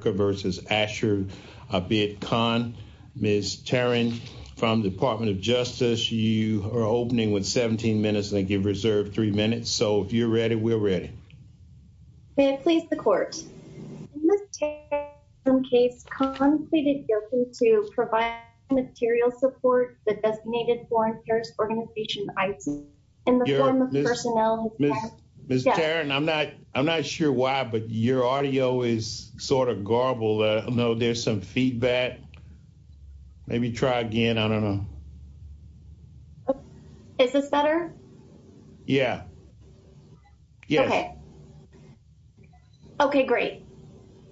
v. Asher, albeit Khan. Ms. Tarrin from the Department of Justice, you are opening with 17 minutes. Thank you. Reserved three minutes. So if you're ready, we're ready. May it please the court. Ms. Tarrin's case conceded guilty to providing material support that designated foreign terrorist organization IT in the form of personnel. Ms. Tarrin, I'm not sure why, but your audio is sort of horrible. I know there's some feedback. Maybe try again. I don't know. Is this better? Yeah. Okay. Okay, great.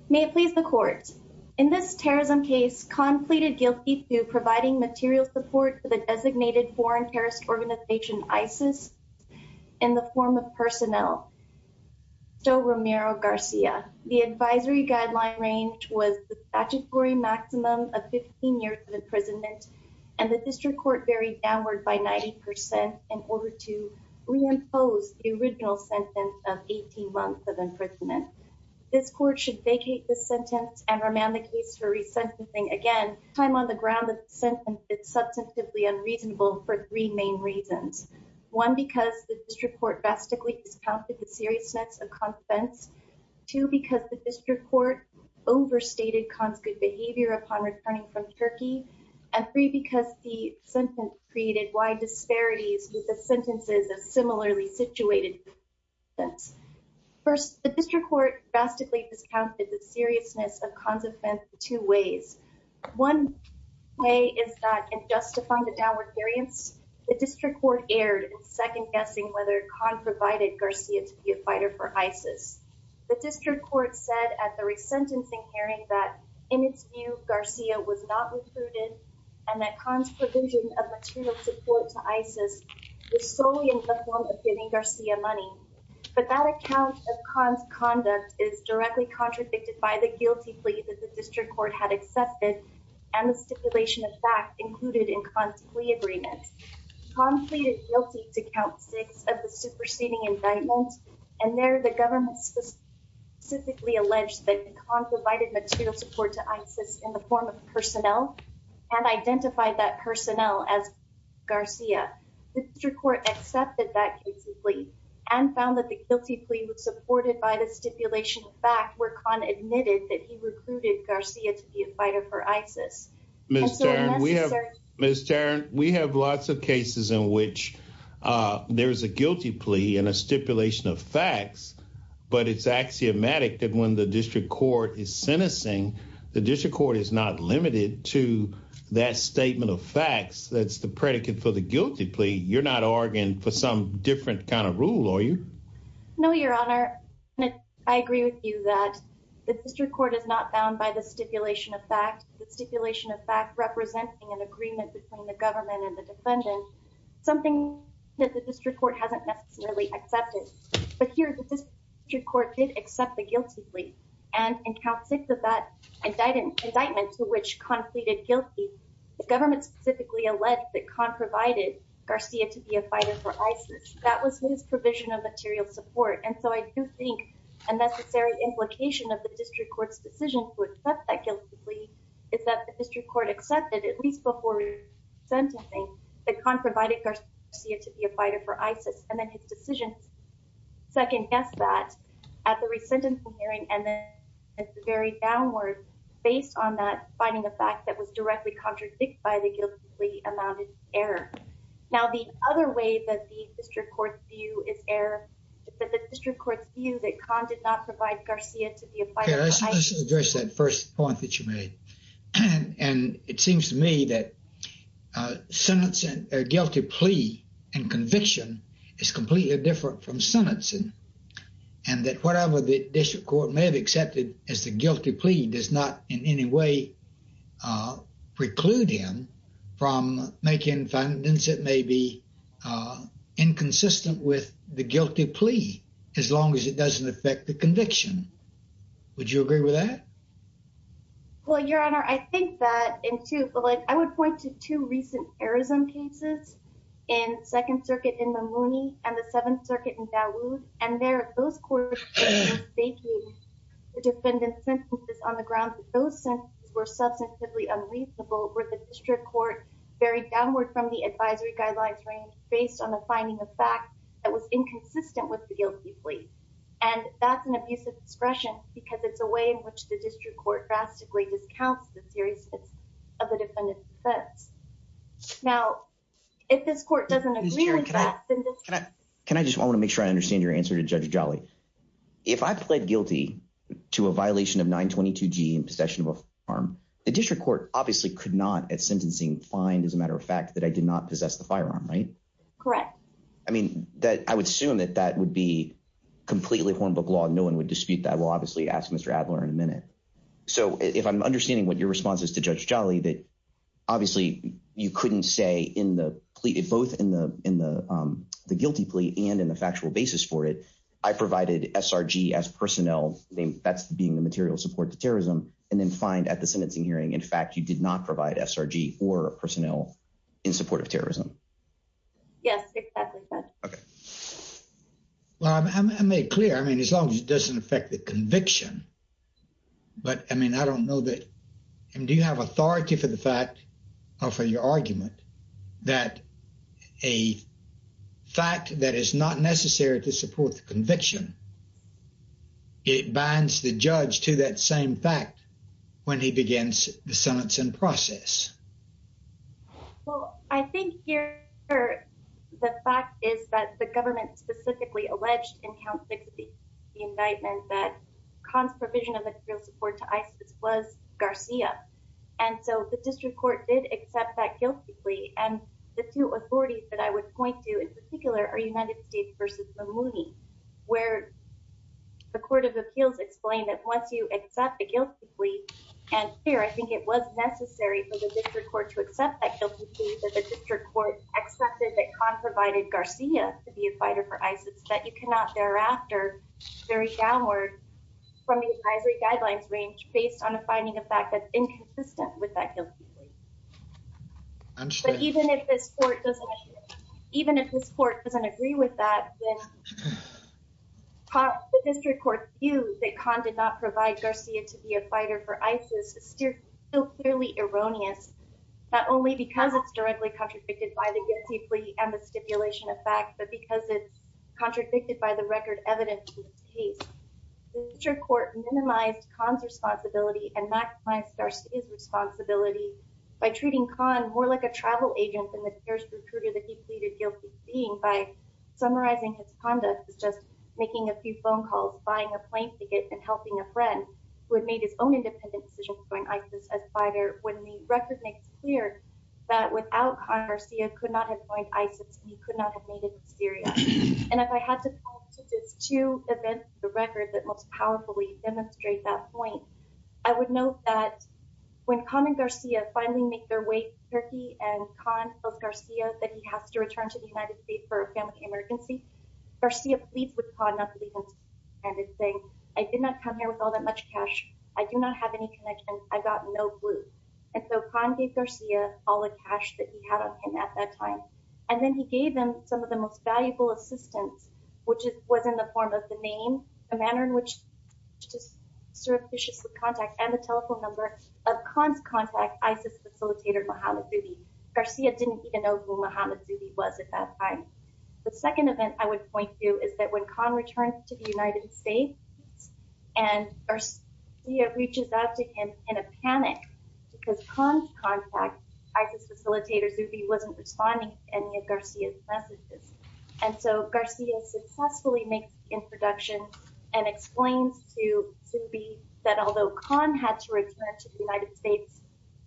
May it please the court. In this terrorism case, Khan pleaded guilty to providing material support for the designated foreign terrorist organization ISIS in the form of was the statutory maximum of 15 years of imprisonment, and the district court buried downward by 90% in order to reimpose the original sentence of 18 months of imprisonment. This court should vacate the sentence and remand the case for resentencing again. Time on the ground that the sentence is substantively unreasonable for three main reasons. One, because the district court drastically discounted the seriousness of consents. Two, because the district court overstated Khan's good behavior upon returning from Turkey. And three, because the sentence created wide disparities with the sentences of similarly situated consents. First, the district court drastically discounted the seriousness of Khan's offense two ways. One way is that justifying the downward variance. The district court erred in second guessing whether Khan provided Garcia to be a fighter for ISIS. The district court said at the resentencing hearing that in its view, Garcia was not recruited, and that Khan's provision of material support to ISIS was solely in the form of giving Garcia money. But that account of Khan's conduct is directly contradicted by the guilty plea that the district court had accepted, and the stipulation of fact included in Khan's plea agreement. Khan pleaded guilty to count six of the superseding indictment, and there the government specifically alleged that Khan provided material support to ISIS in the form of personnel, and identified that personnel as Garcia. The district court accepted that guilty plea, and found that the guilty plea was supported by the stipulation of fact where Khan admitted that he recruited Garcia to be a fighter for ISIS. Ms. Tarrant, we have lots of cases in which there's a guilty plea and a stipulation of facts, but it's axiomatic that when the district court is sentencing, the district court is not limited to that statement of facts. That's the predicate for the guilty plea. You're not arguing for some different kind of rule, are you? No, your honor. I agree with you that the district court is not bound by the stipulation of fact. The stipulation of fact representing an agreement between the government and the defendant, something that the district court hasn't necessarily accepted. But here the district court did accept the guilty plea, and in count six of that indictment to which Khan pleaded guilty, the government specifically alleged that Khan provided Garcia to be a fighter for ISIS. That was his provision of material support. And so I do think a necessary implication of the district court's decision to accept that guilty plea is that the district court accepted, at least before sentencing, that Khan provided Garcia to be a fighter for ISIS. And then his decision second guessed that at the resentment hearing, and then it varied downward based on that finding a fact that was directly contradicted by the guilty plea amounted to error. Now the other way that the district court's view is error, that the district court's view that Khan did not provide Garcia to be a fighter for ISIS. Let's address that first point that you made. And it seems to me that sentencing a guilty plea and conviction is completely different from sentencing. And that whatever the district court may have accepted as the guilty plea does not in any way preclude him from making findings that may be inconsistent with the guilty plea, as long as it doesn't affect the conviction. Would you agree with that? Well, Your Honor, I think that in two, but like I would point to two recent terrorism cases in Second Circuit in Mamouni and the Seventh Circuit in Dawood, and there those courts were mistaking the defendant's sentences on the grounds that those sentences were substantively unreasonable, where the district court varied downward from the advisory guidelines range based on the finding of fact that was inconsistent with the guilty plea. And that's an abusive expression because it's a way in which the district court drastically discounts the seriousness of the defendant's defense. Now, if this court doesn't agree with that. Can I just want to make sure I understand your answer to Judge Jolly? If I pled guilty to a violation of 922 G in possession of a firearm, the district court obviously could not at sentencing find as a matter of fact that I did not possess the firearm, right? Correct. I mean, that I would assume that that would be completely Hornbook law. No one would dispute that. We'll obviously ask Mr. Adler in a minute. So if I'm understanding what your response is to the guilty plea and in the factual basis for it, I provided SRG as personnel name. That's being the material support to terrorism and then find at the sentencing hearing. In fact, you did not provide SRG or personnel in support of terrorism. Yes, exactly. Well, I made clear, I mean, as long as it doesn't affect the conviction. But I mean, I don't know that. And do you have authority for the fact or for your argument that a fact that is not necessary to support the conviction, it binds the judge to that same fact when he begins the sentencing process? Well, I think here the fact is that the government specifically alleged in count 60 the indictment that cons provision of the real support to ISIS was Garcia. And so the district court did accept that guilty plea. And the two authorities that I would point to in particular are United States versus Mamouni, where the Court of Appeals explained that once you accept the guilty plea, and here I think it was necessary for the district court to accept that guilty plea that the district court accepted that con provided Garcia to be a fighter for ISIS that you cannot thereafter very downward from the advisory guidelines range based on a finding of fact inconsistent with that guilty plea. But even if this court doesn't, even if this court doesn't agree with that, the district court view that con did not provide Garcia to be a fighter for ISIS is still clearly erroneous, not only because it's directly contradicted by the guilty plea and the stipulation of fact, but because it's contradicted by the record evidence case, district court minimized cons responsibility and maximized Garcia's responsibility by treating con more like a travel agent than the terrorist recruiter that he pleaded guilty to being by summarizing his conduct as just making a few phone calls, buying a plane ticket, and helping a friend who had made his own independent decision to join ISIS as a fighter when the record makes clear that without con Garcia could not have joined ISIS and he could not have made it to Syria. And if I had to point to just two events, the record that most powerfully demonstrate that point, I would note that when con and Garcia finally make their way to Turkey and con tells Garcia that he has to return to the United States for a family emergency, Garcia pleads with con not to leave and is saying, I did not come here with all that much cash. I do not have any connections. I got no clue. And so con gave Garcia all the cash that he had on him at that time. And then he gave him some of the most valuable assistance, which was in the form of the name, a manner in which just surreptitious with contact and the telephone number of cons contact ISIS facilitator Mohammed Zubi. Garcia didn't even know who Mohammed Zubi was at that time. The second event I would point to is that when con returned to the United States and Garcia reaches out to him in a panic because con contact ISIS facilitator Zubi wasn't responding to any of Garcia's messages. And so Garcia successfully makes the introduction and explains to Zubi that although con had to return to the United States,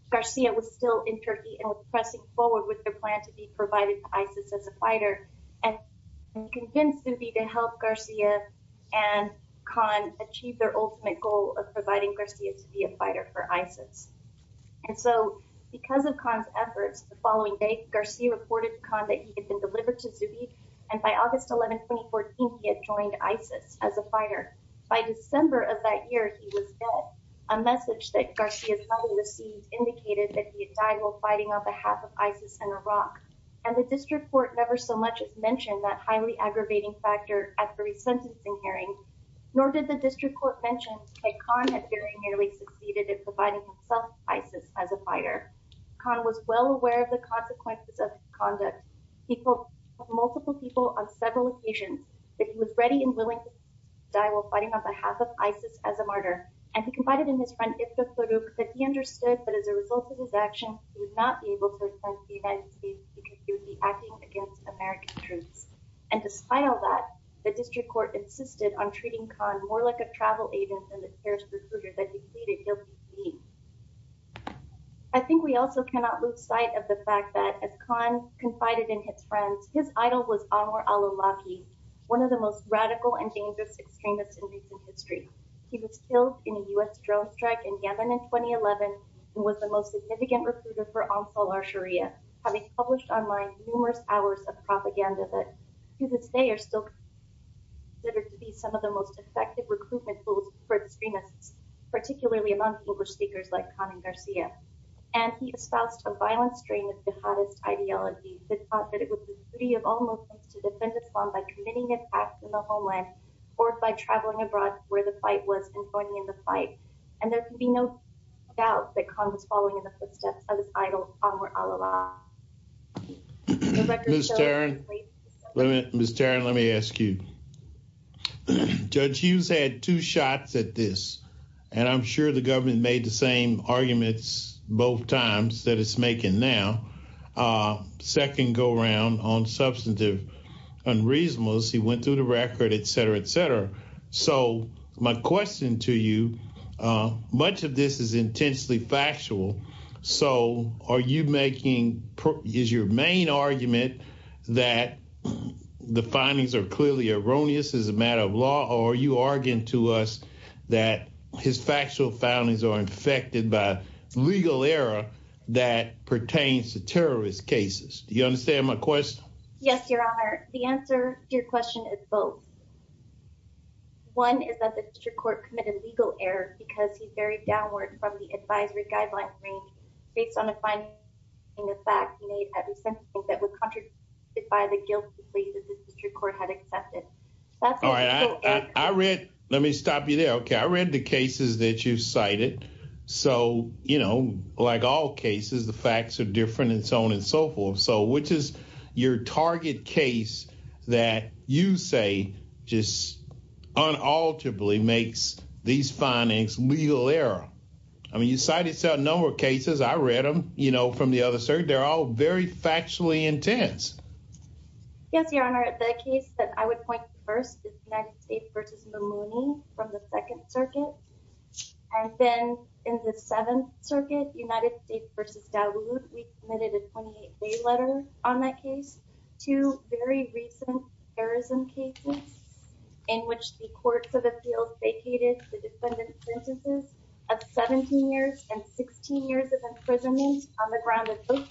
Garcia was still in Turkey and was pressing forward with their plan to be provided to ISIS as a fighter and convinced Zubi to help Garcia and con achieve their ultimate goal of providing Garcia to be a fighter for ISIS. And so because of con's efforts, the following day Garcia reported con that he had been delivered to Zubi and by August 11, 2014, he had joined ISIS as a fighter. By December of that year, he was dead. A message that Garcia's mother received indicated that he had died while fighting on behalf of ISIS in Iraq. And the district court never so much as mentioned that highly aggravating factor at the resentencing hearing, nor did the district court mention that con had very nearly succeeded in providing himself to ISIS as a fighter. Con was well aware of the consequences of his conduct. He called multiple people on several occasions that he was ready and willing to die while fighting on behalf of ISIS as a martyr. And he confided in his friend Iftikharu that he understood that as a result of his action, he would not be able to return to the United States because he would be acting against American troops. And despite all that, the district court insisted on treating con more like a travel agent than the terrorist recruiter that he pleaded guilty to be. I think we also cannot lose sight of the fact that as con confided in his friends, his idol was Anwar al-Awlaki, one of the most radical and dangerous extremists in recent history. He was killed in a U.S. drone strike in Yemen in 2011 and was the most significant recruiter for Ansar al-Sharia, having published online numerous hours of propaganda that to this day are still considered to be some of the most effective recruitment tools for extremists, particularly among English speakers like con and Garcia. And he espoused a violent strain of jihadist ideology that thought that it was the duty of all Muslims to defend Islam by committing an act in the homeland or by traveling abroad where the fight was and joining in the fight. And there can be no doubt that con was following in the footsteps of his idol, Anwar al-Awlaki. The record shows- Ms. Tarrin, let me ask you. Judge Hughes had two shots at this, and I'm sure the government made the same arguments both times that it's making now. Second go around on substantive unreasonableness, he went through the record, et cetera, et cetera. So my question to you, much of this is intensely factual. So are you making- is your main argument that the findings are clearly erroneous as a matter of law, or are you arguing to us that his factual findings are infected by legal error that pertains to terrorist cases? Do you understand my question? Yes, your honor. The answer to your question is both. One is that the district court committed legal error because he varied downward from the advisory guideline range based on the finding in the fact he made at the sentencing that would contradictify the guilty plea that the district court had accepted. All right. I read- let me stop you there. Okay. I read the cases that you cited. So, you know, like all cases, the facts are different and so on and so forth. So which is your target case that you say just unalterably makes these findings legal error? I mean, you cited several cases. I read them, you know, from the other circuit. They're all very factually intense. Yes, your honor. The case that I would point to first is United States versus Mamouni from the Second Circuit. And then in the Seventh Circuit, United States versus Dawood, we committed a 28-day letter on that case. Two very recent terrorism cases in which the courts of appeals vacated the defendant's sentences of 17 years and 16 years of imprisonment on the ground of both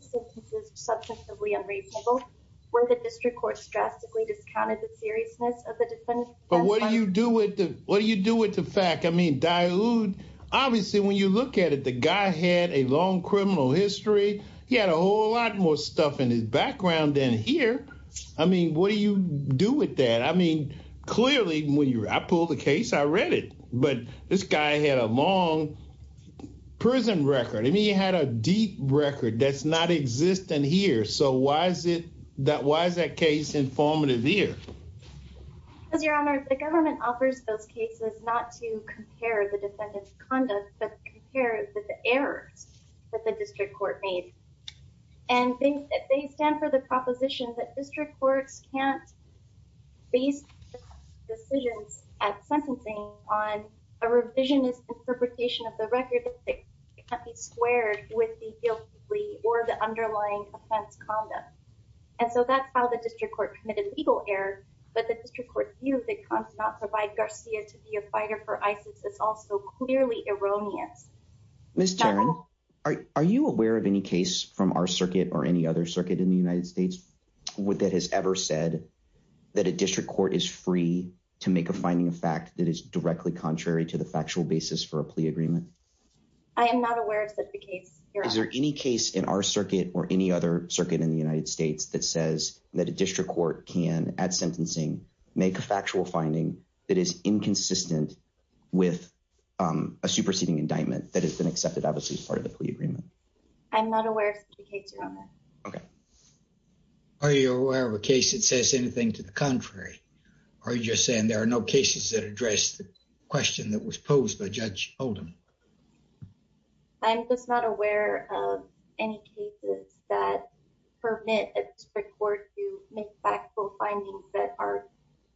sentences, substantively unreasonable, where the district court drastically discounted the seriousness of the defendant's- But what do you do with the- what do you do with the fact- I mean, obviously, when you look at it, the guy had a long criminal history. He had a whole lot more stuff in his background than here. I mean, what do you do with that? I mean, clearly, when you- I pulled the case, I read it. But this guy had a long prison record. I mean, he had a deep record that's not existent here. So why is it that- why is that case informative here? Because, Your Honor, the government offers those cases not to compare the defendant's conduct, but compare it with the errors that the district court made. And they stand for the proposition that district courts can't base decisions at sentencing on a revisionist interpretation of the record that can't be squared with the guilty plea or the underlying offense conduct. And so that's how the district court committed legal error. But the district court view that can't not provide Garcia to be a fighter for ISIS is also clearly erroneous. Ms. Tarrant, are you aware of any case from our circuit or any other circuit in the United States that has ever said that a district court is free to make a finding of fact that is directly contrary to the factual basis for a plea agreement? I am not aware of such a case, Your Honor. Is there any case in our circuit or any other circuit in the United States that says that a district court can, at sentencing, make a factual finding that is inconsistent with a superseding indictment that has been accepted obviously as part of the plea agreement? I'm not aware of such a case, Your Honor. Okay. Are you aware of a case that says anything to the contrary? Or are you just saying there are no cases that address the question that was posed by Judge Oldham? I'm just not aware of any cases that permit a district court to make factual findings that are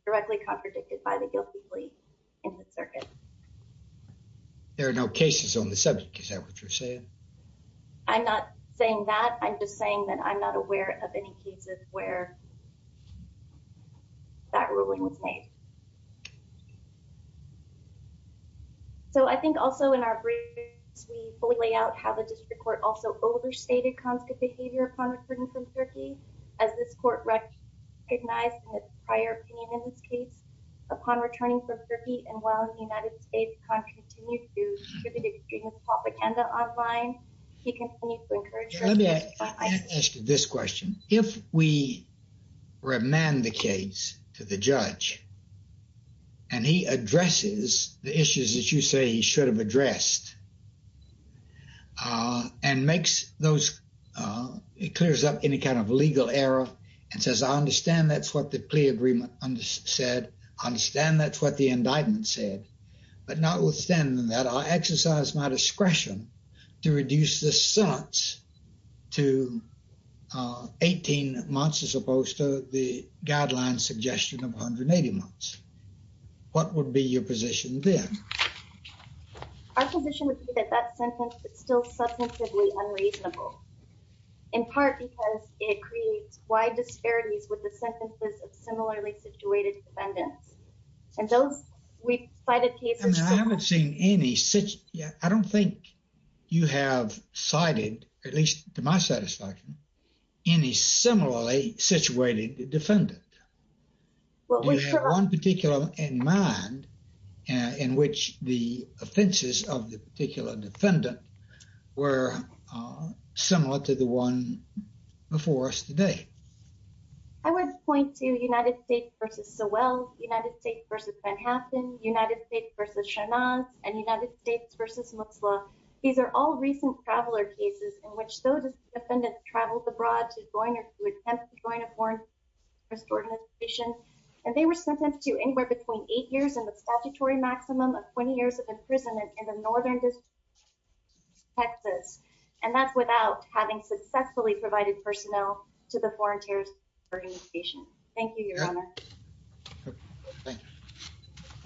directly contradicted by the guilty plea in the circuit. There are no cases on the subject. Is that what you're saying? I'm not saying that. I'm just saying that I'm not aware of any cases where that ruling was made. So, I think also in our briefs, we fully lay out how the district court also overstated Khan's good behavior upon returning from Turkey. As this court recognized in its prior opinion in this case, upon returning from Turkey and while the United States, Khan continued to distribute extremist propaganda online, he continued to encourage Turkey to fight ISIS. Let me ask you this question. If we remand the case to the judge, and he addresses the issues that you say he should have addressed, and makes those, clears up any kind of legal error and says, I understand that's what the plea agreement said. I understand that's what the indictment said. But notwithstanding that, I exercise my discretion to reduce the sentence to 18 months as opposed to the 18 months. What would be your position then? Our position would be that that sentence is still substantively unreasonable. In part, because it creates wide disparities with the sentences of similarly situated defendants. And those, we've cited cases- I haven't seen any such, yeah, I don't think you have cited, at least to my satisfaction, any similarly situated defendant. Do you have one particular in mind in which the offenses of the particular defendant were similar to the one before us today? I would point to United States versus Sowell, United States versus Van Haffen, United States versus Shahnaz, and United States versus Mosul. These are all recent traveler cases in which those defendants traveled abroad to join or to attempt to join a foreign terrorist organization. And they were sentenced to anywhere between eight years and the statutory maximum of 20 years of imprisonment in the northern district of Texas. And that's without having successfully provided personnel to the foreign terrorist organization. Thank you, Your Honor.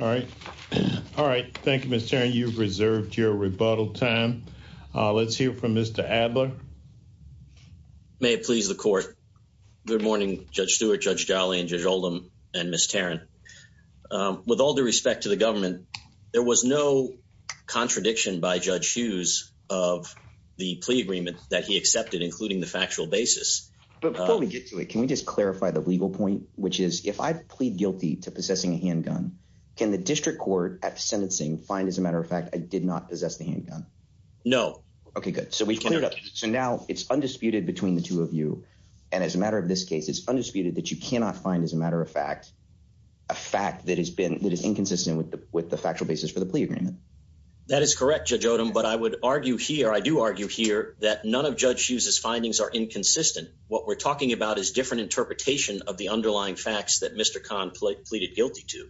All right. All right. Thank you, Ms. Tarrant. You've reserved your adverb. May it please the court. Good morning, Judge Stewart, Judge Jolly, and Judge Oldham, and Ms. Tarrant. With all due respect to the government, there was no contradiction by Judge Hughes of the plea agreement that he accepted, including the factual basis. But before we get to it, can we just clarify the legal point, which is if I plead guilty to possessing a handgun, can the district court at sentencing find, as a matter of fact, I did not possess the handgun? No. Okay, good. So we've cleared up. So now it's undisputed between the two of you. And as a matter of this case, it's undisputed that you cannot find, as a matter of fact, a fact that is inconsistent with the factual basis for the plea agreement. That is correct, Judge Oldham. But I would argue here, I do argue here, that none of Judge Hughes's findings are inconsistent. What we're talking about is different interpretation of the underlying facts that Mr. Khan pleaded guilty to.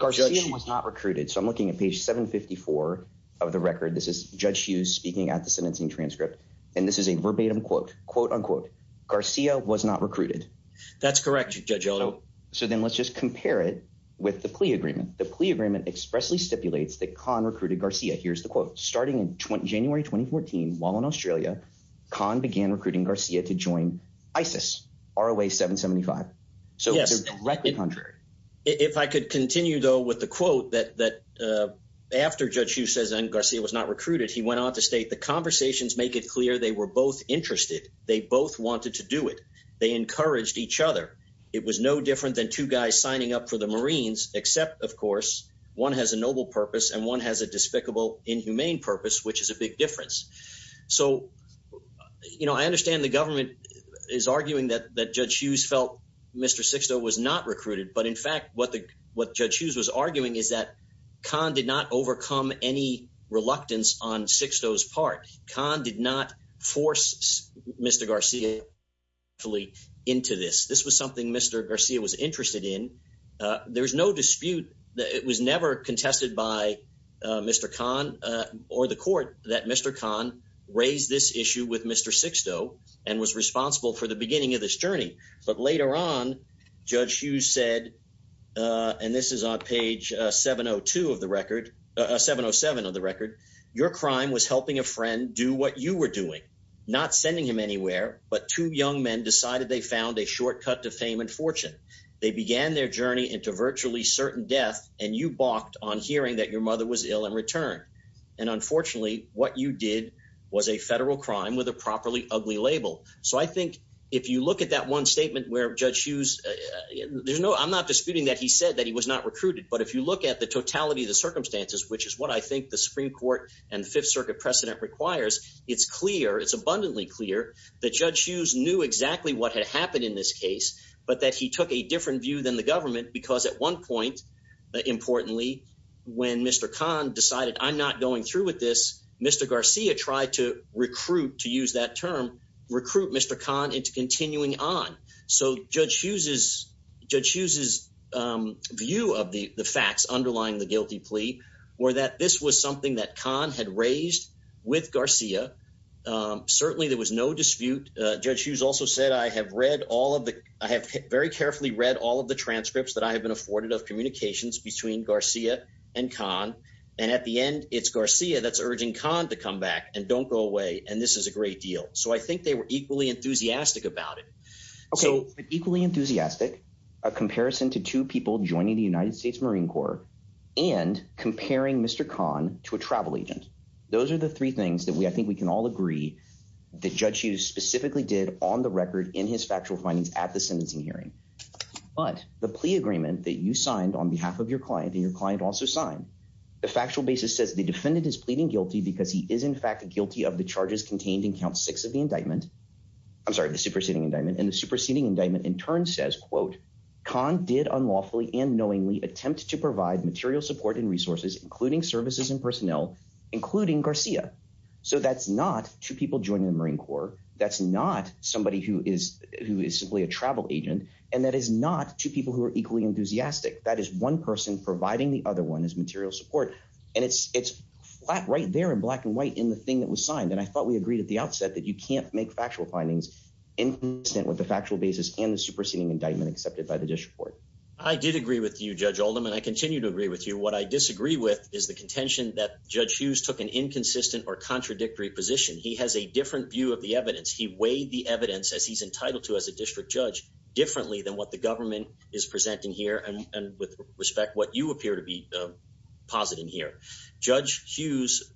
Our judge was not recruited. So I'm looking at page 754 of the record. This is Judge Hughes speaking at the sentencing transcript. And this is a verbatim quote, quote unquote, Garcia was not recruited. That's correct, Judge Oldham. So then let's just compare it with the plea agreement. The plea agreement expressly stipulates that Khan recruited Garcia. Here's the quote. Starting in January 2014, while in Australia, Khan began recruiting Garcia to join ISIS, ROA 775. So it's directly contrary. If I could continue though with the Garcia was not recruited, he went on to state, the conversations make it clear they were both interested. They both wanted to do it. They encouraged each other. It was no different than two guys signing up for the Marines, except of course, one has a noble purpose and one has a despicable, inhumane purpose, which is a big difference. So, you know, I understand the government is arguing that Judge Hughes felt Mr. Sixto was not recruited. But in fact, what Judge Hughes was arguing is that Khan did not overcome any reluctance on Sixto's part. Khan did not force Mr. Garcia into this. This was something Mr. Garcia was interested in. There was no dispute. It was never contested by Mr. Khan or the court that Mr. Khan raised this issue with Mr. Sixto and was responsible for the beginning of this journey. But later on, Judge Hughes said, and this is on page 707 of the record, your crime was helping a friend do what you were doing, not sending him anywhere, but two young men decided they found a shortcut to fame and fortune. They began their journey into virtually certain death and you balked on hearing that your mother was ill in return. And unfortunately, what you did was a federal crime with a properly ugly label. So I think if you look at that one statement where Judge Hughes, there's no, I'm not disputing that he said that he was not recruited, but if you look at the totality of the circumstances, which is what I think the Supreme Court and the Fifth Circuit precedent requires, it's clear, it's abundantly clear that Judge Hughes knew exactly what had happened in this case, but that he took a different view than the government because at one point, importantly, when Mr. Khan decided I'm not going through with this, Mr. Garcia tried to recruit Mr. Khan into continuing on. So Judge Hughes' view of the facts underlying the guilty plea were that this was something that Khan had raised with Garcia. Certainly there was no dispute. Judge Hughes also said, I have read all of the, I have very carefully read all of the transcripts that I have been afforded of communications between Garcia and Khan. And at the end, it's Garcia that's urging Khan to come back and don't go away. And this is a great deal. So I think they were equally enthusiastic about it. Okay. Equally enthusiastic, a comparison to two people joining the United States Marine Corps and comparing Mr. Khan to a travel agent. Those are the three things that we, I think we can all agree that Judge Hughes specifically did on the record in his factual findings at the sentencing hearing. But the plea agreement that you signed on behalf of your client and your client also signed, the factual basis says the defendant is pleading guilty because he is in fact guilty of the charges contained in count six of the indictment. I'm sorry, the superseding indictment. And the superseding indictment in turn says, quote, Khan did unlawfully and knowingly attempt to provide material support and resources, including services and personnel, including Garcia. So that's not two people joining the Marine Corps. That's not somebody who is simply a travel agent. And that is not two people who are equally enthusiastic. That is one person providing the other one as material support. And it's it's flat right there in black and white in the thing that was signed. And I thought we agreed at the outset that you can't make factual findings instant with the factual basis and the superseding indictment accepted by the district court. I did agree with you, Judge Oldham, and I continue to agree with you. What I disagree with is the contention that Judge Hughes took an inconsistent or contradictory position. He has a different view of the evidence. He weighed the evidence as he's entitled to as a district judge differently than what the government is presenting here. And with respect, what you appear to be positing here, Judge Hughes,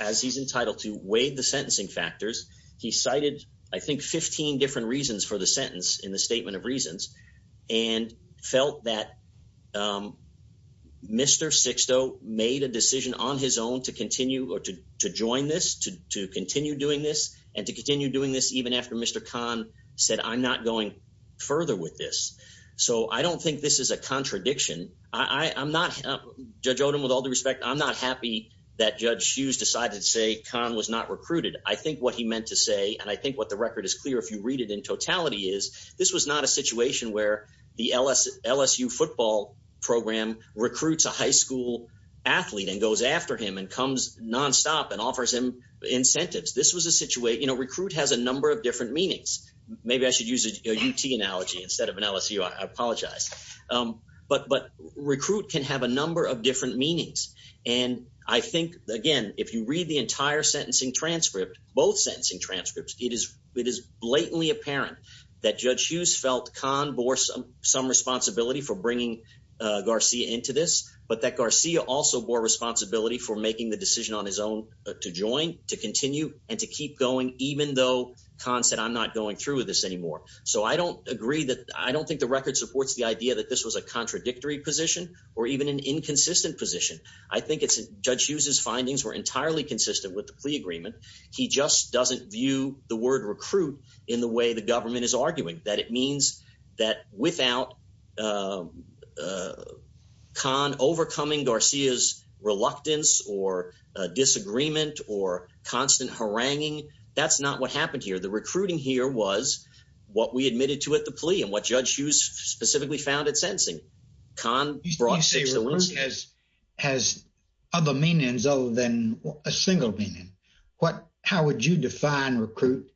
as he's entitled to weighed the sentencing factors. He cited, I think, 15 different reasons for the sentence in the statement of reasons and felt that Mr. Sixto made a decision on his own to continue or to join this, to continue doing this and to continue doing this even after Mr. Khan said, I'm not going further with this. So I don't think this is a contradiction. I'm not, Judge Oldham, with all the respect, I'm not happy that Judge Hughes decided to say Khan was not recruited. I think what he meant to say, and I think what the record is clear if you read it in totality, is this was not a situation where the LSU football program recruits a high school athlete and goes after him and comes nonstop and offers him incentives. This was a situation, you know, recruit has a number of instead of an LSU, I apologize, but recruit can have a number of different meanings. And I think, again, if you read the entire sentencing transcript, both sentencing transcripts, it is blatantly apparent that Judge Hughes felt Khan bore some responsibility for bringing Garcia into this, but that Garcia also bore responsibility for making the decision on his own to join, to continue and to keep going, even though Khan said, I'm not going through this anymore. So I don't agree that, I don't think the record supports the idea that this was a contradictory position or even an inconsistent position. I think it's, Judge Hughes's findings were entirely consistent with the plea agreement. He just doesn't view the word recruit in the way the government is arguing, that it means that without Khan overcoming Garcia's reluctance or disagreement or constant haranguing, that's not what happened here. The recruiting here was what we admitted to at the plea and what Judge Hughes specifically found at sentencing. Khan brought six to the room. You say recruit has other meanings other than a single meaning. What, how would you define recruit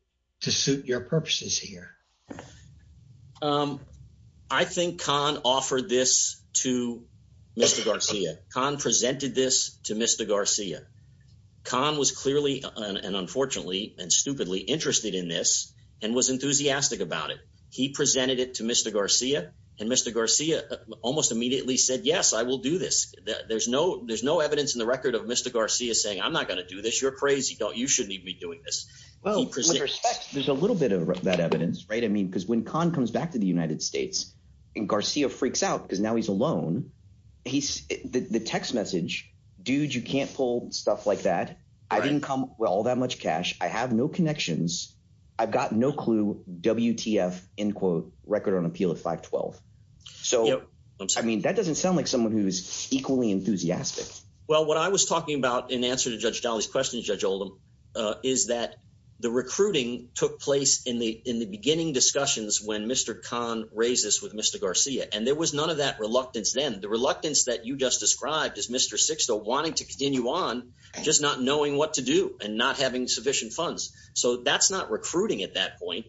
to suit your purposes here? Um, I think Khan offered this to Mr. Garcia. Khan presented this to Mr. Garcia. Khan was clearly, and unfortunately, and stupidly interested in this and was enthusiastic about it. He presented it to Mr. Garcia and Mr. Garcia almost immediately said, yes, I will do this. There's no, there's no evidence in the record of Mr. Garcia saying, I'm not going to do this. You're crazy. Don't, you shouldn't even be doing this. Well, with respect, there's a little bit of that evidence, right? I mean, because when Khan comes back to the United States and Garcia freaks out, because now he's alone, he's the text message, dude, you can't pull stuff like that. I didn't come with all that much cash. I have no connections. I've got no clue, WTF, end quote, record on appeal of 512. So, I mean, that doesn't sound like someone who's equally enthusiastic. Well, what I was talking about in answer to Judge Dolly's question, Judge Oldham, is that the recruiting took place in the, in the beginning discussions when Mr. Khan raises with Mr. Garcia. And there was none of that reluctance. Then the reluctance that you just described as Mr. Sixto wanting to continue on, just not knowing what to do and not having sufficient funds. So that's not recruiting at that point,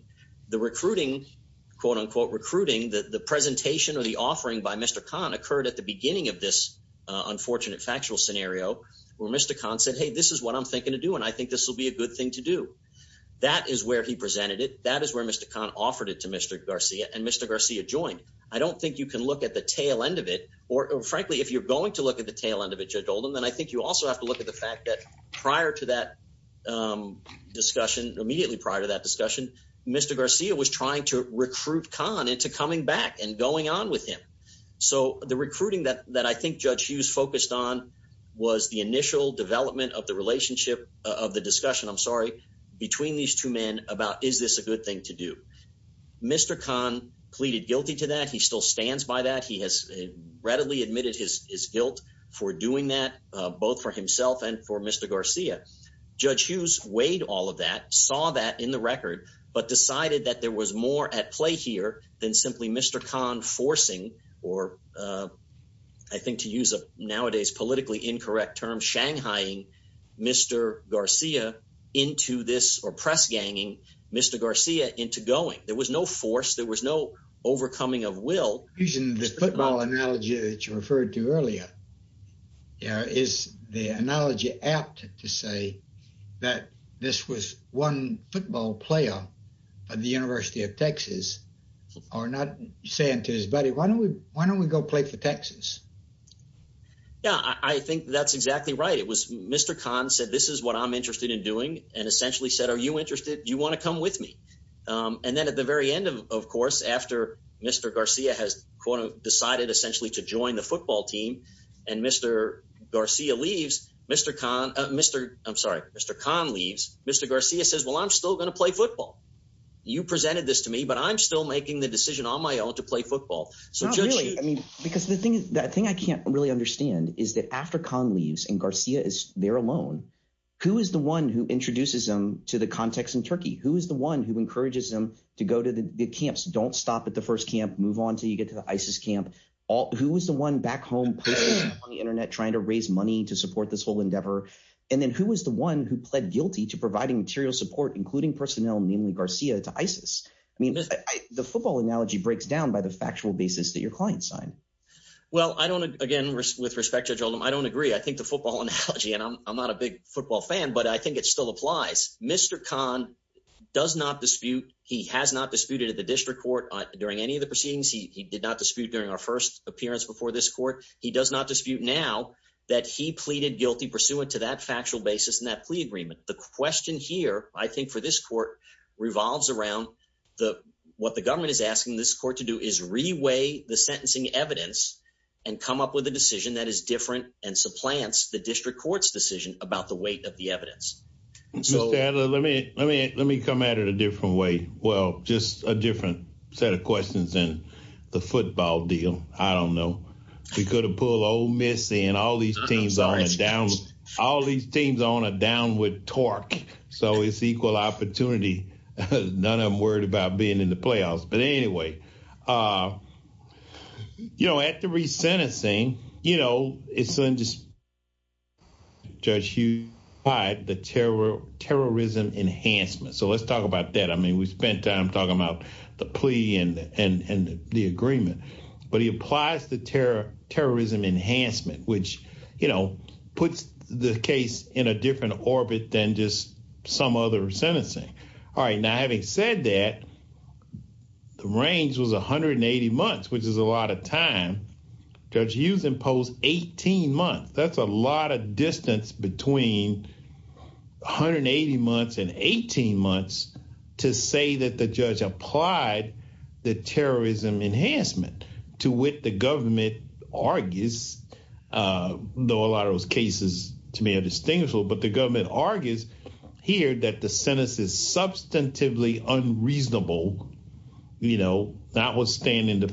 the recruiting quote unquote, recruiting the presentation or the offering by Mr. Khan occurred at the beginning of this I think this will be a good thing to do. That is where he presented it. That is where Mr. Khan offered it to Mr. Garcia and Mr. Garcia joined. I don't think you can look at the tail end of it, or frankly, if you're going to look at the tail end of it, Judge Oldham, then I think you also have to look at the fact that prior to that discussion, immediately prior to that discussion, Mr. Garcia was trying to recruit Khan into coming back and going on with him. So the recruiting that I think Judge Hughes focused on was the initial development of the relationship of the discussion, I'm sorry, between these two men about, is this a good thing to do? Mr. Khan pleaded guilty to that. He still stands by that. He has readily admitted his guilt for doing that both for himself and for Mr. Garcia. Judge Hughes weighed all of that, saw that in record, but decided that there was more at play here than simply Mr. Khan forcing, or I think to use a nowadays politically incorrect term, Shanghaiing Mr. Garcia into this, or press-ganging Mr. Garcia into going. There was no force. There was no overcoming of will. Using the football analogy that you referred to earlier, is the analogy apt to say that this was one football player at the University of Texas, or not saying to his buddy, why don't we go play for Texas? Yeah, I think that's exactly right. It was Mr. Khan said, this is what I'm interested in doing, and essentially said, are you interested? You want to come with me? And then at the very end, of course, after Mr. Garcia has, quote, decided essentially to join the football team, and Mr. Garcia leaves, Mr. Khan, I'm sorry, Mr. Khan leaves, Mr. Garcia says, well, I'm still going to play football. You presented this to me, but I'm still making the decision on my own to play football. So Judge Hughes- Not really. I mean, because the thing that I can't really understand is that after Khan leaves and Garcia is there alone, who is the one who introduces them to the context in Turkey? Who is the one who encourages them to go to the camps? Don't stop at the first camp, move on till you get to the ISIS camp. Who was the one back home, posting on the internet, trying to raise money to support this whole endeavor? And then who was the one who pled guilty to providing material support, including personnel, namely Garcia, to ISIS? I mean, the football analogy breaks down by the factual basis that your client signed. Judge Hughes- Well, I don't, again, with respect, Judge Oldham, I don't agree. I think the football analogy, and I'm not a big football fan, but I think it still applies. Mr. Khan does not dispute, he has not disputed at the district court during any of the proceedings. He did not dispute during our first appearance before this now that he pleaded guilty pursuant to that factual basis and that plea agreement. The question here, I think for this court, revolves around what the government is asking this court to do is reweigh the sentencing evidence and come up with a decision that is different and supplants the district court's decision about the weight of the evidence. Mr. Adler, let me come at it a different way. Well, just a different set of questions than the football deal. I don't know. We could have pulled Ole Miss in, all these teams on a downward torque. So it's equal opportunity. None of them worried about being in the playoffs. But anyway, you know, at the re-sentencing, you know, it's unjustified the terrorism enhancement. So let's talk about that. I mean, we spent time talking about the plea and the agreement, but he applies the terrorism enhancement, which, you know, puts the case in a different orbit than just some other sentencing. All right. Now, having said that, the range was 180 months, which is a lot of time. Judge Hughes imposed 18 months. That's a lot of distance between 180 months and 18 months to say that the judge applied the terrorism enhancement to what the government argues, though a lot of those cases, to me, are distinguishable. But the government argues here that the sentence is substantively unreasonable, you know, notwithstanding the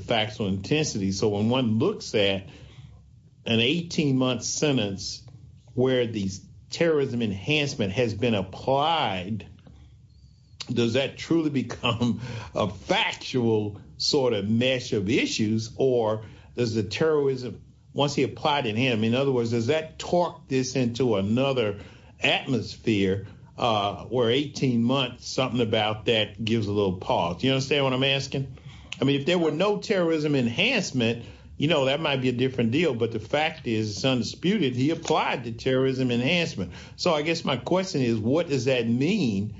has been applied, does that truly become a factual sort of mesh of issues? Or does the terrorism, once he applied it to him, in other words, does that torque this into another atmosphere, where 18 months, something about that gives a little pause? You understand what I'm asking? I mean, if there were no terrorism enhancement, you know, that might be a different deal. But the fact is, it's undisputed, he applied the terrorism enhancement. So I guess my question is, what does that mean?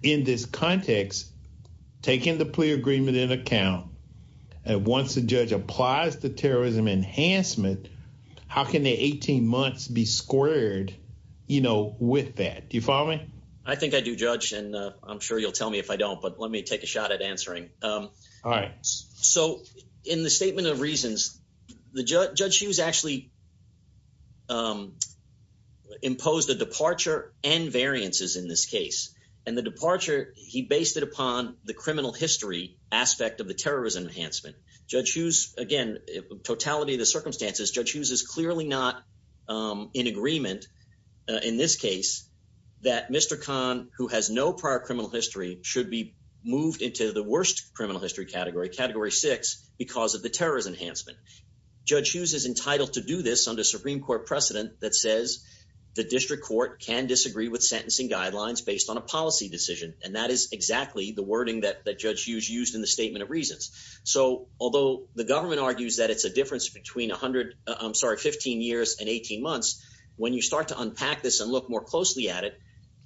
In this context, taking the plea agreement in account, and once the judge applies the terrorism enhancement, how can the 18 months be squared, you know, with that? Do you follow me? I think I do, Judge. And I'm sure you'll tell me if I don't, but let me take a shot at answering. All right. So in the statement of reasons, Judge Hughes actually imposed a departure and variances in this case. And the departure, he based it upon the criminal history aspect of the terrorism enhancement. Judge Hughes, again, totality of the circumstances, Judge Hughes is clearly not in agreement in this case, that Mr. Khan, who has no prior criminal history, should be moved into the worst criminal history category, category six, because of the terrorism enhancement. Judge Hughes is entitled to do this under Supreme Court precedent that says the district court can disagree with sentencing guidelines based on a policy decision. And that is exactly the wording that Judge Hughes used in the statement of reasons. So although the government argues that it's a difference between 15 years and 18 months, when you start to unpack this and look more closely at it,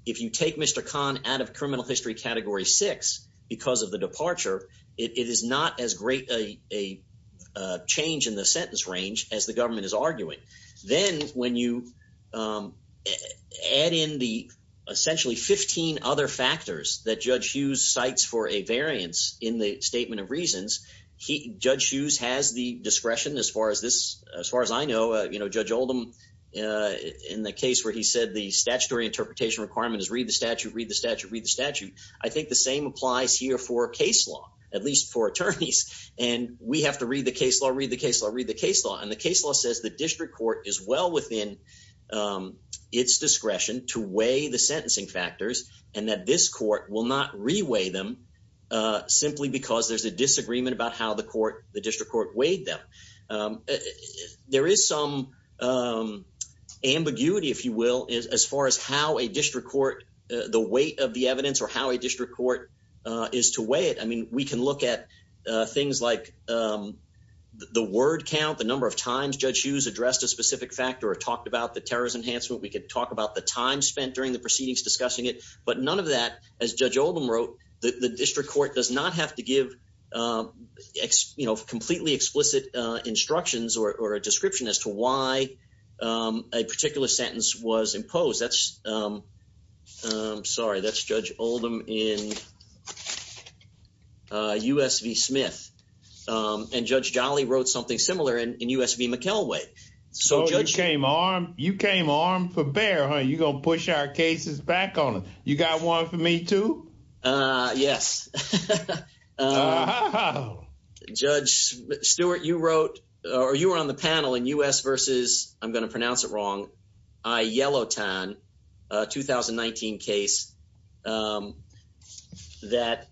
if you take Mr. Khan out of criminal history category six because of the departure, it is not as great a change in the sentence range as the government is arguing. Then when you add in the essentially 15 other factors that Judge Hughes cites for a variance in the statement of reasons, Judge Hughes has the discretion, as far as I know, Judge Oldham, in the case where he said the statutory interpretation requirement is read the statute, read the statute, read the statute. I think the same applies here for case law, at least for attorneys. And we have to read the case law, read the case law, read the case law. And the case law says the district court is well within its discretion to weigh the sentencing factors, and that this court will not re-weigh them simply because there's a disagreement about how the district court weighed them. There is some ambiguity, if you will, as far as how a district court, the weight of the evidence, or how a district court is to weigh it. I mean, we can look at things like the word count, the number of times Judge Hughes addressed a specific factor or talked about the terrorist enhancement. We could talk about the time spent during the proceedings discussing it, but none of that, as Judge Oldham wrote, the district court does not have to give you know, completely explicit instructions or a description as to why a particular sentence was imposed. That's, I'm sorry, that's Judge Oldham in U.S. v. Smith. And Judge Jolly wrote something similar in U.S. v. McElway. So you came armed for bear, huh? You're going to push our cases back on them. You got one for me, too? Yes. Judge Stewart, you wrote, or you were on the panel in U.S. v. I'm going to pronounce it wrong, I-Yellowton, a 2019 case that...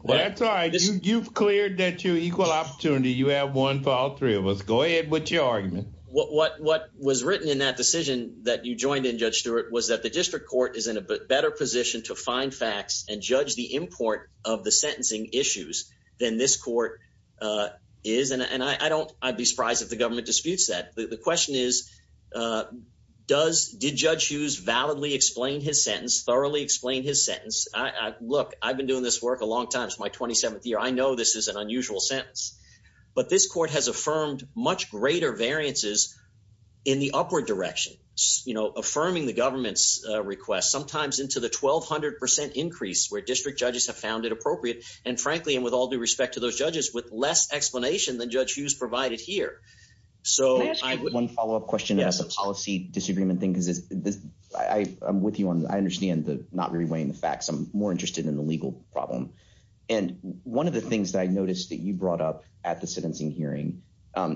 Well, that's all right. You've cleared that you equal opportunity. You have one for all three of us. Go ahead with your argument. What was written in that decision that you the import of the sentencing issues than this court is? And I don't, I'd be surprised if the government disputes that. The question is, did Judge Hughes validly explain his sentence, thoroughly explain his sentence? Look, I've been doing this work a long time. It's my 27th year. I know this is an unusual sentence, but this court has affirmed much greater variances in the upward direction, you know, affirming the government's request sometimes into the 1,200% increase where district judges have found it appropriate. And frankly, and with all due respect to those judges, with less explanation than Judge Hughes provided here. So... Can I ask you one follow-up question about the policy disagreement thing? Because I'm with you on, I understand the not re-weighing the facts. I'm more interested in the legal problem. And one of the things that I noticed that you brought up at the sentencing hearing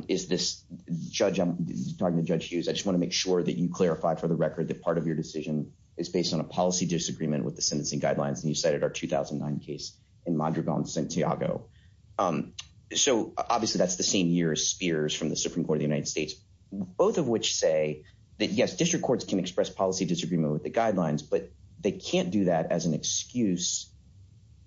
is this judge... I'm talking to Judge Hughes. I just want to make sure that you clarify for record that part of your decision is based on a policy disagreement with the sentencing guidelines. And you cited our 2009 case in Madrigal and Santiago. So obviously that's the same year as Spears from the Supreme Court of the United States. Both of which say that yes, district courts can express policy disagreement with the guidelines, but they can't do that as an excuse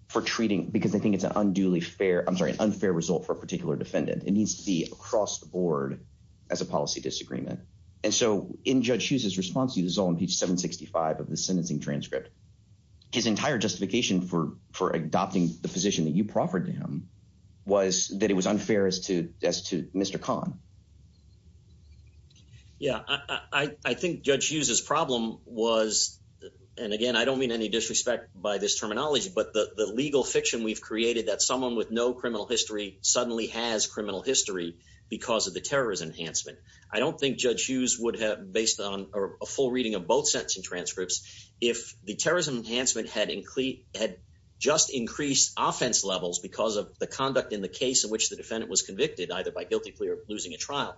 for treating, because they think it's an unduly fair, I'm sorry, an unfair result for a particular defendant. It needs to be across the board as a policy disagreement. And so in Judge Hughes' response to you, this is all in page 765 of the sentencing transcript, his entire justification for adopting the position that you proffered to him was that it was unfair as to Mr. Khan. Yeah. I think Judge Hughes' problem was, and again, I don't mean any disrespect by this terminology, but the legal fiction we've created that someone with no criminal history suddenly has criminal history because of the terrorist enhancement. I don't think Judge Hughes would based on a full reading of both sentencing transcripts, if the terrorism enhancement had just increased offense levels because of the conduct in the case in which the defendant was convicted, either by guilty plea or losing a trial.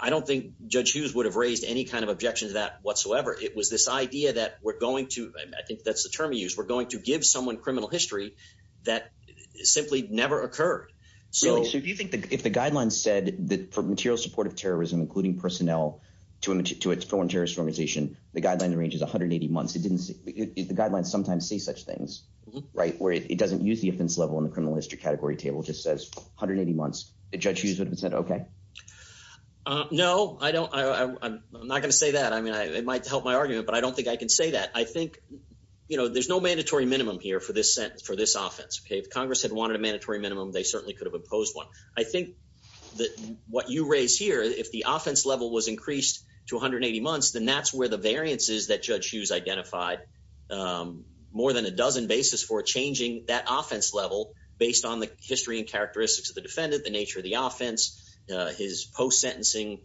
I don't think Judge Hughes would have raised any kind of objection to that whatsoever. It was this idea that we're going to, I think that's the term you use, we're going to give someone criminal history that simply never occurred. So do you think that if the guidelines said that for material support of terrorism, including personnel to its foreign terrorist organization, the guideline ranges 180 months, it didn't say, the guidelines sometimes say such things, right? Where it doesn't use the offense level in the criminal history category table just says 180 months, Judge Hughes would have said, okay. No, I don't, I'm not going to say that. I mean, it might help my argument, but I don't think I can say that. I think, you know, there's no mandatory minimum here for this sentence, for this offense. Okay. If Congress had wanted a mandatory minimum, they certainly could have proposed one. I think that what you raise here, if the offense level was increased to 180 months, then that's where the variances that Judge Hughes identified, more than a dozen basis for changing that offense level based on the history and characteristics of the defendant, the nature of the offense, his post-sentencing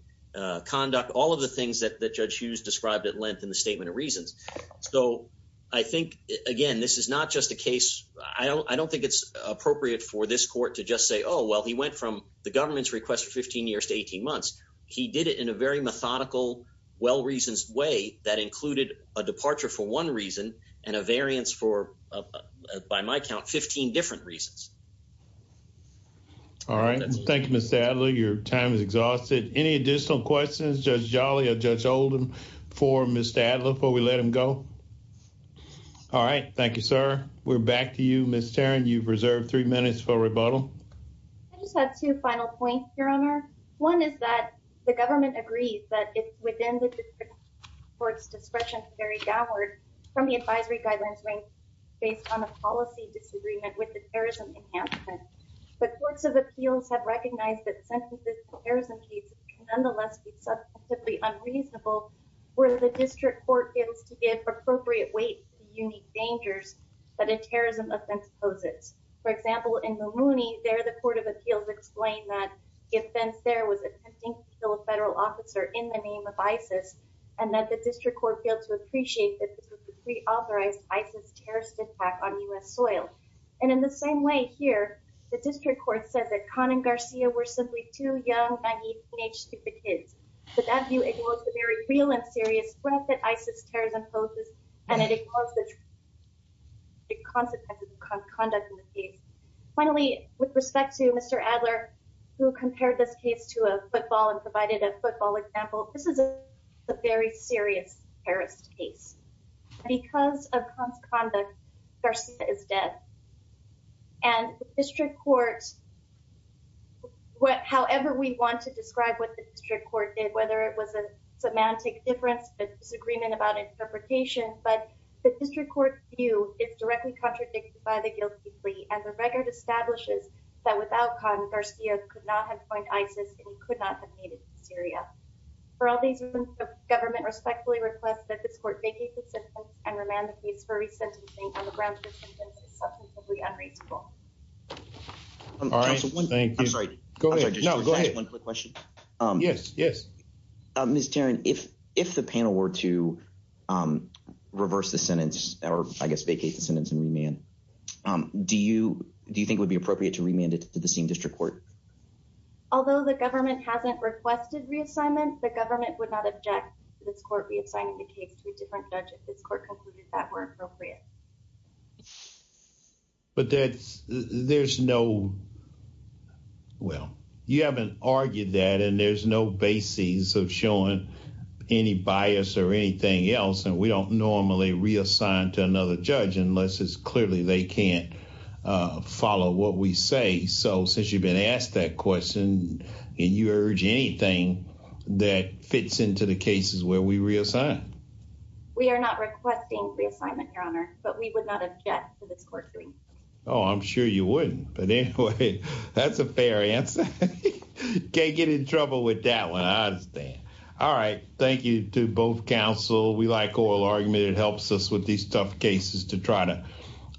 conduct, all of the things that Judge Hughes described at length in the statement of reasons. So I think, again, this is not just a case, I don't think it's appropriate for this court to just say, oh, well, he went from the government's request for 15 years to 18 months. He did it in a very methodical, well-reasoned way that included a departure for one reason and a variance for, by my count, 15 different reasons. All right. Thank you, Mr. Adler. Your time is exhausted. Any additional questions, Judge Jolly or Judge Oldham for Mr. Adler before we let him go? All right. Thank you, sir. We're back to you, Ms. Tarrin. You've reserved three minutes for rebuttal. I just have two final points, Your Honor. One is that the government agrees that it's within the district court's discretion to carry downward from the advisory guidelines rank based on a policy disagreement with the terrorism enhancement, but courts of appeals have recognized that sentences for terrorism cases can nonetheless be subjectively unreasonable where the district court fails to give appropriate weight to the unique dangers that a terrorism offense poses. For example, in Mulroney, there the court of appeals explained that the offense there was attempting to kill a federal officer in the name of ISIS and that the district court failed to appreciate that this was a pre-authorized ISIS terrorist attack on U.S. soil. And in the same way here, the district court says that Khan and Garcia were simply too young, naive, teenage, stupid kids. To that view, it was a very real and serious threat that ISIS terrorism poses and it ignores the consequences of Khan's conduct in the case. Finally, with respect to Mr. Adler, who compared this case to a football and provided a football example, this is a very serious terrorist case. Because of Khan's conduct, Garcia is dead. And the district court, however we want to describe what the district court did, whether it was a semantic difference, a disagreement about interpretation, but the district court view is directly contradicted by the guilty plea and the record establishes that without Khan, Garcia could not have coined ISIS and he could not have made it to Syria. For all these reasons, the government respectfully requests that this court vacate the sentence and remand the case for re-sentencing on the grounds that the sentence is substantively unreasonable. All right, thank you. I'm sorry. Go ahead. No, go ahead. One quick question. Yes, yes. Ms. Tarrant, if the panel were to reverse the sentence or I guess vacate the sentence and remand, do you think it would be appropriate to remand it to the same district court? Although the government hasn't requested reassignment, the government would not object to this court reassigning the case to a different judge if this court concluded that were appropriate. But that's, there's no, well, you haven't argued that and there's no basis of showing any bias or anything else and we don't normally reassign to another judge unless it's clearly they can't follow what we say. So since you've been asked that question, can you urge anything that fits into the cases where we reassign? We are not requesting reassignment, your honor. But we would not object to this court doing that. Oh, I'm sure you wouldn't. But anyway, that's a fair answer. Can't get in trouble with that one. I understand. All right. Thank you to both counsel. We like oral argument. It helps us with these tough cases to try to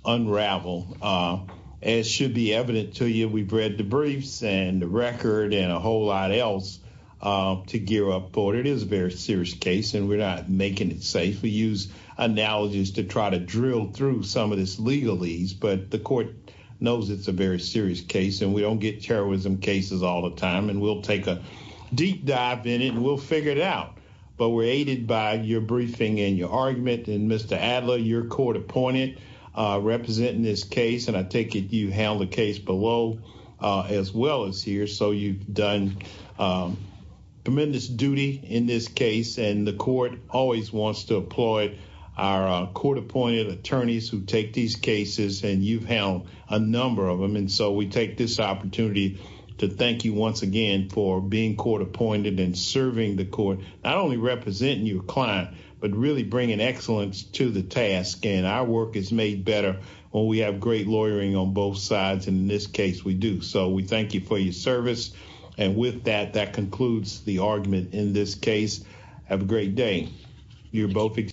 unravel. As should be evident to you, we've read the briefs and the record and a whole lot else to gear up for it. It is a very serious case and we're not making it safe. We use analogies to try to drill through some of this legalese, but the court knows it's a very serious case and we don't get terrorism cases all the time and we'll take a deep dive in it and we'll figure it out. But we're aided by your briefing and your argument and Mr. Adler, your court appointed representing this case. And I take it you handled the case below as well as here. So you've done tremendous duty in this case and the court always wants to applaud our court appointed attorneys who take these cases and you've held a number of them. And so we take this opportunity to thank you once again for being court appointed and serving the court, not only representing your client, but really bringing excellence to the task. And our work is made better when we have great lawyering on both sides. And in this case, we do. So we thank you for your service. And with that, that concludes the argument in this case. Have a great day.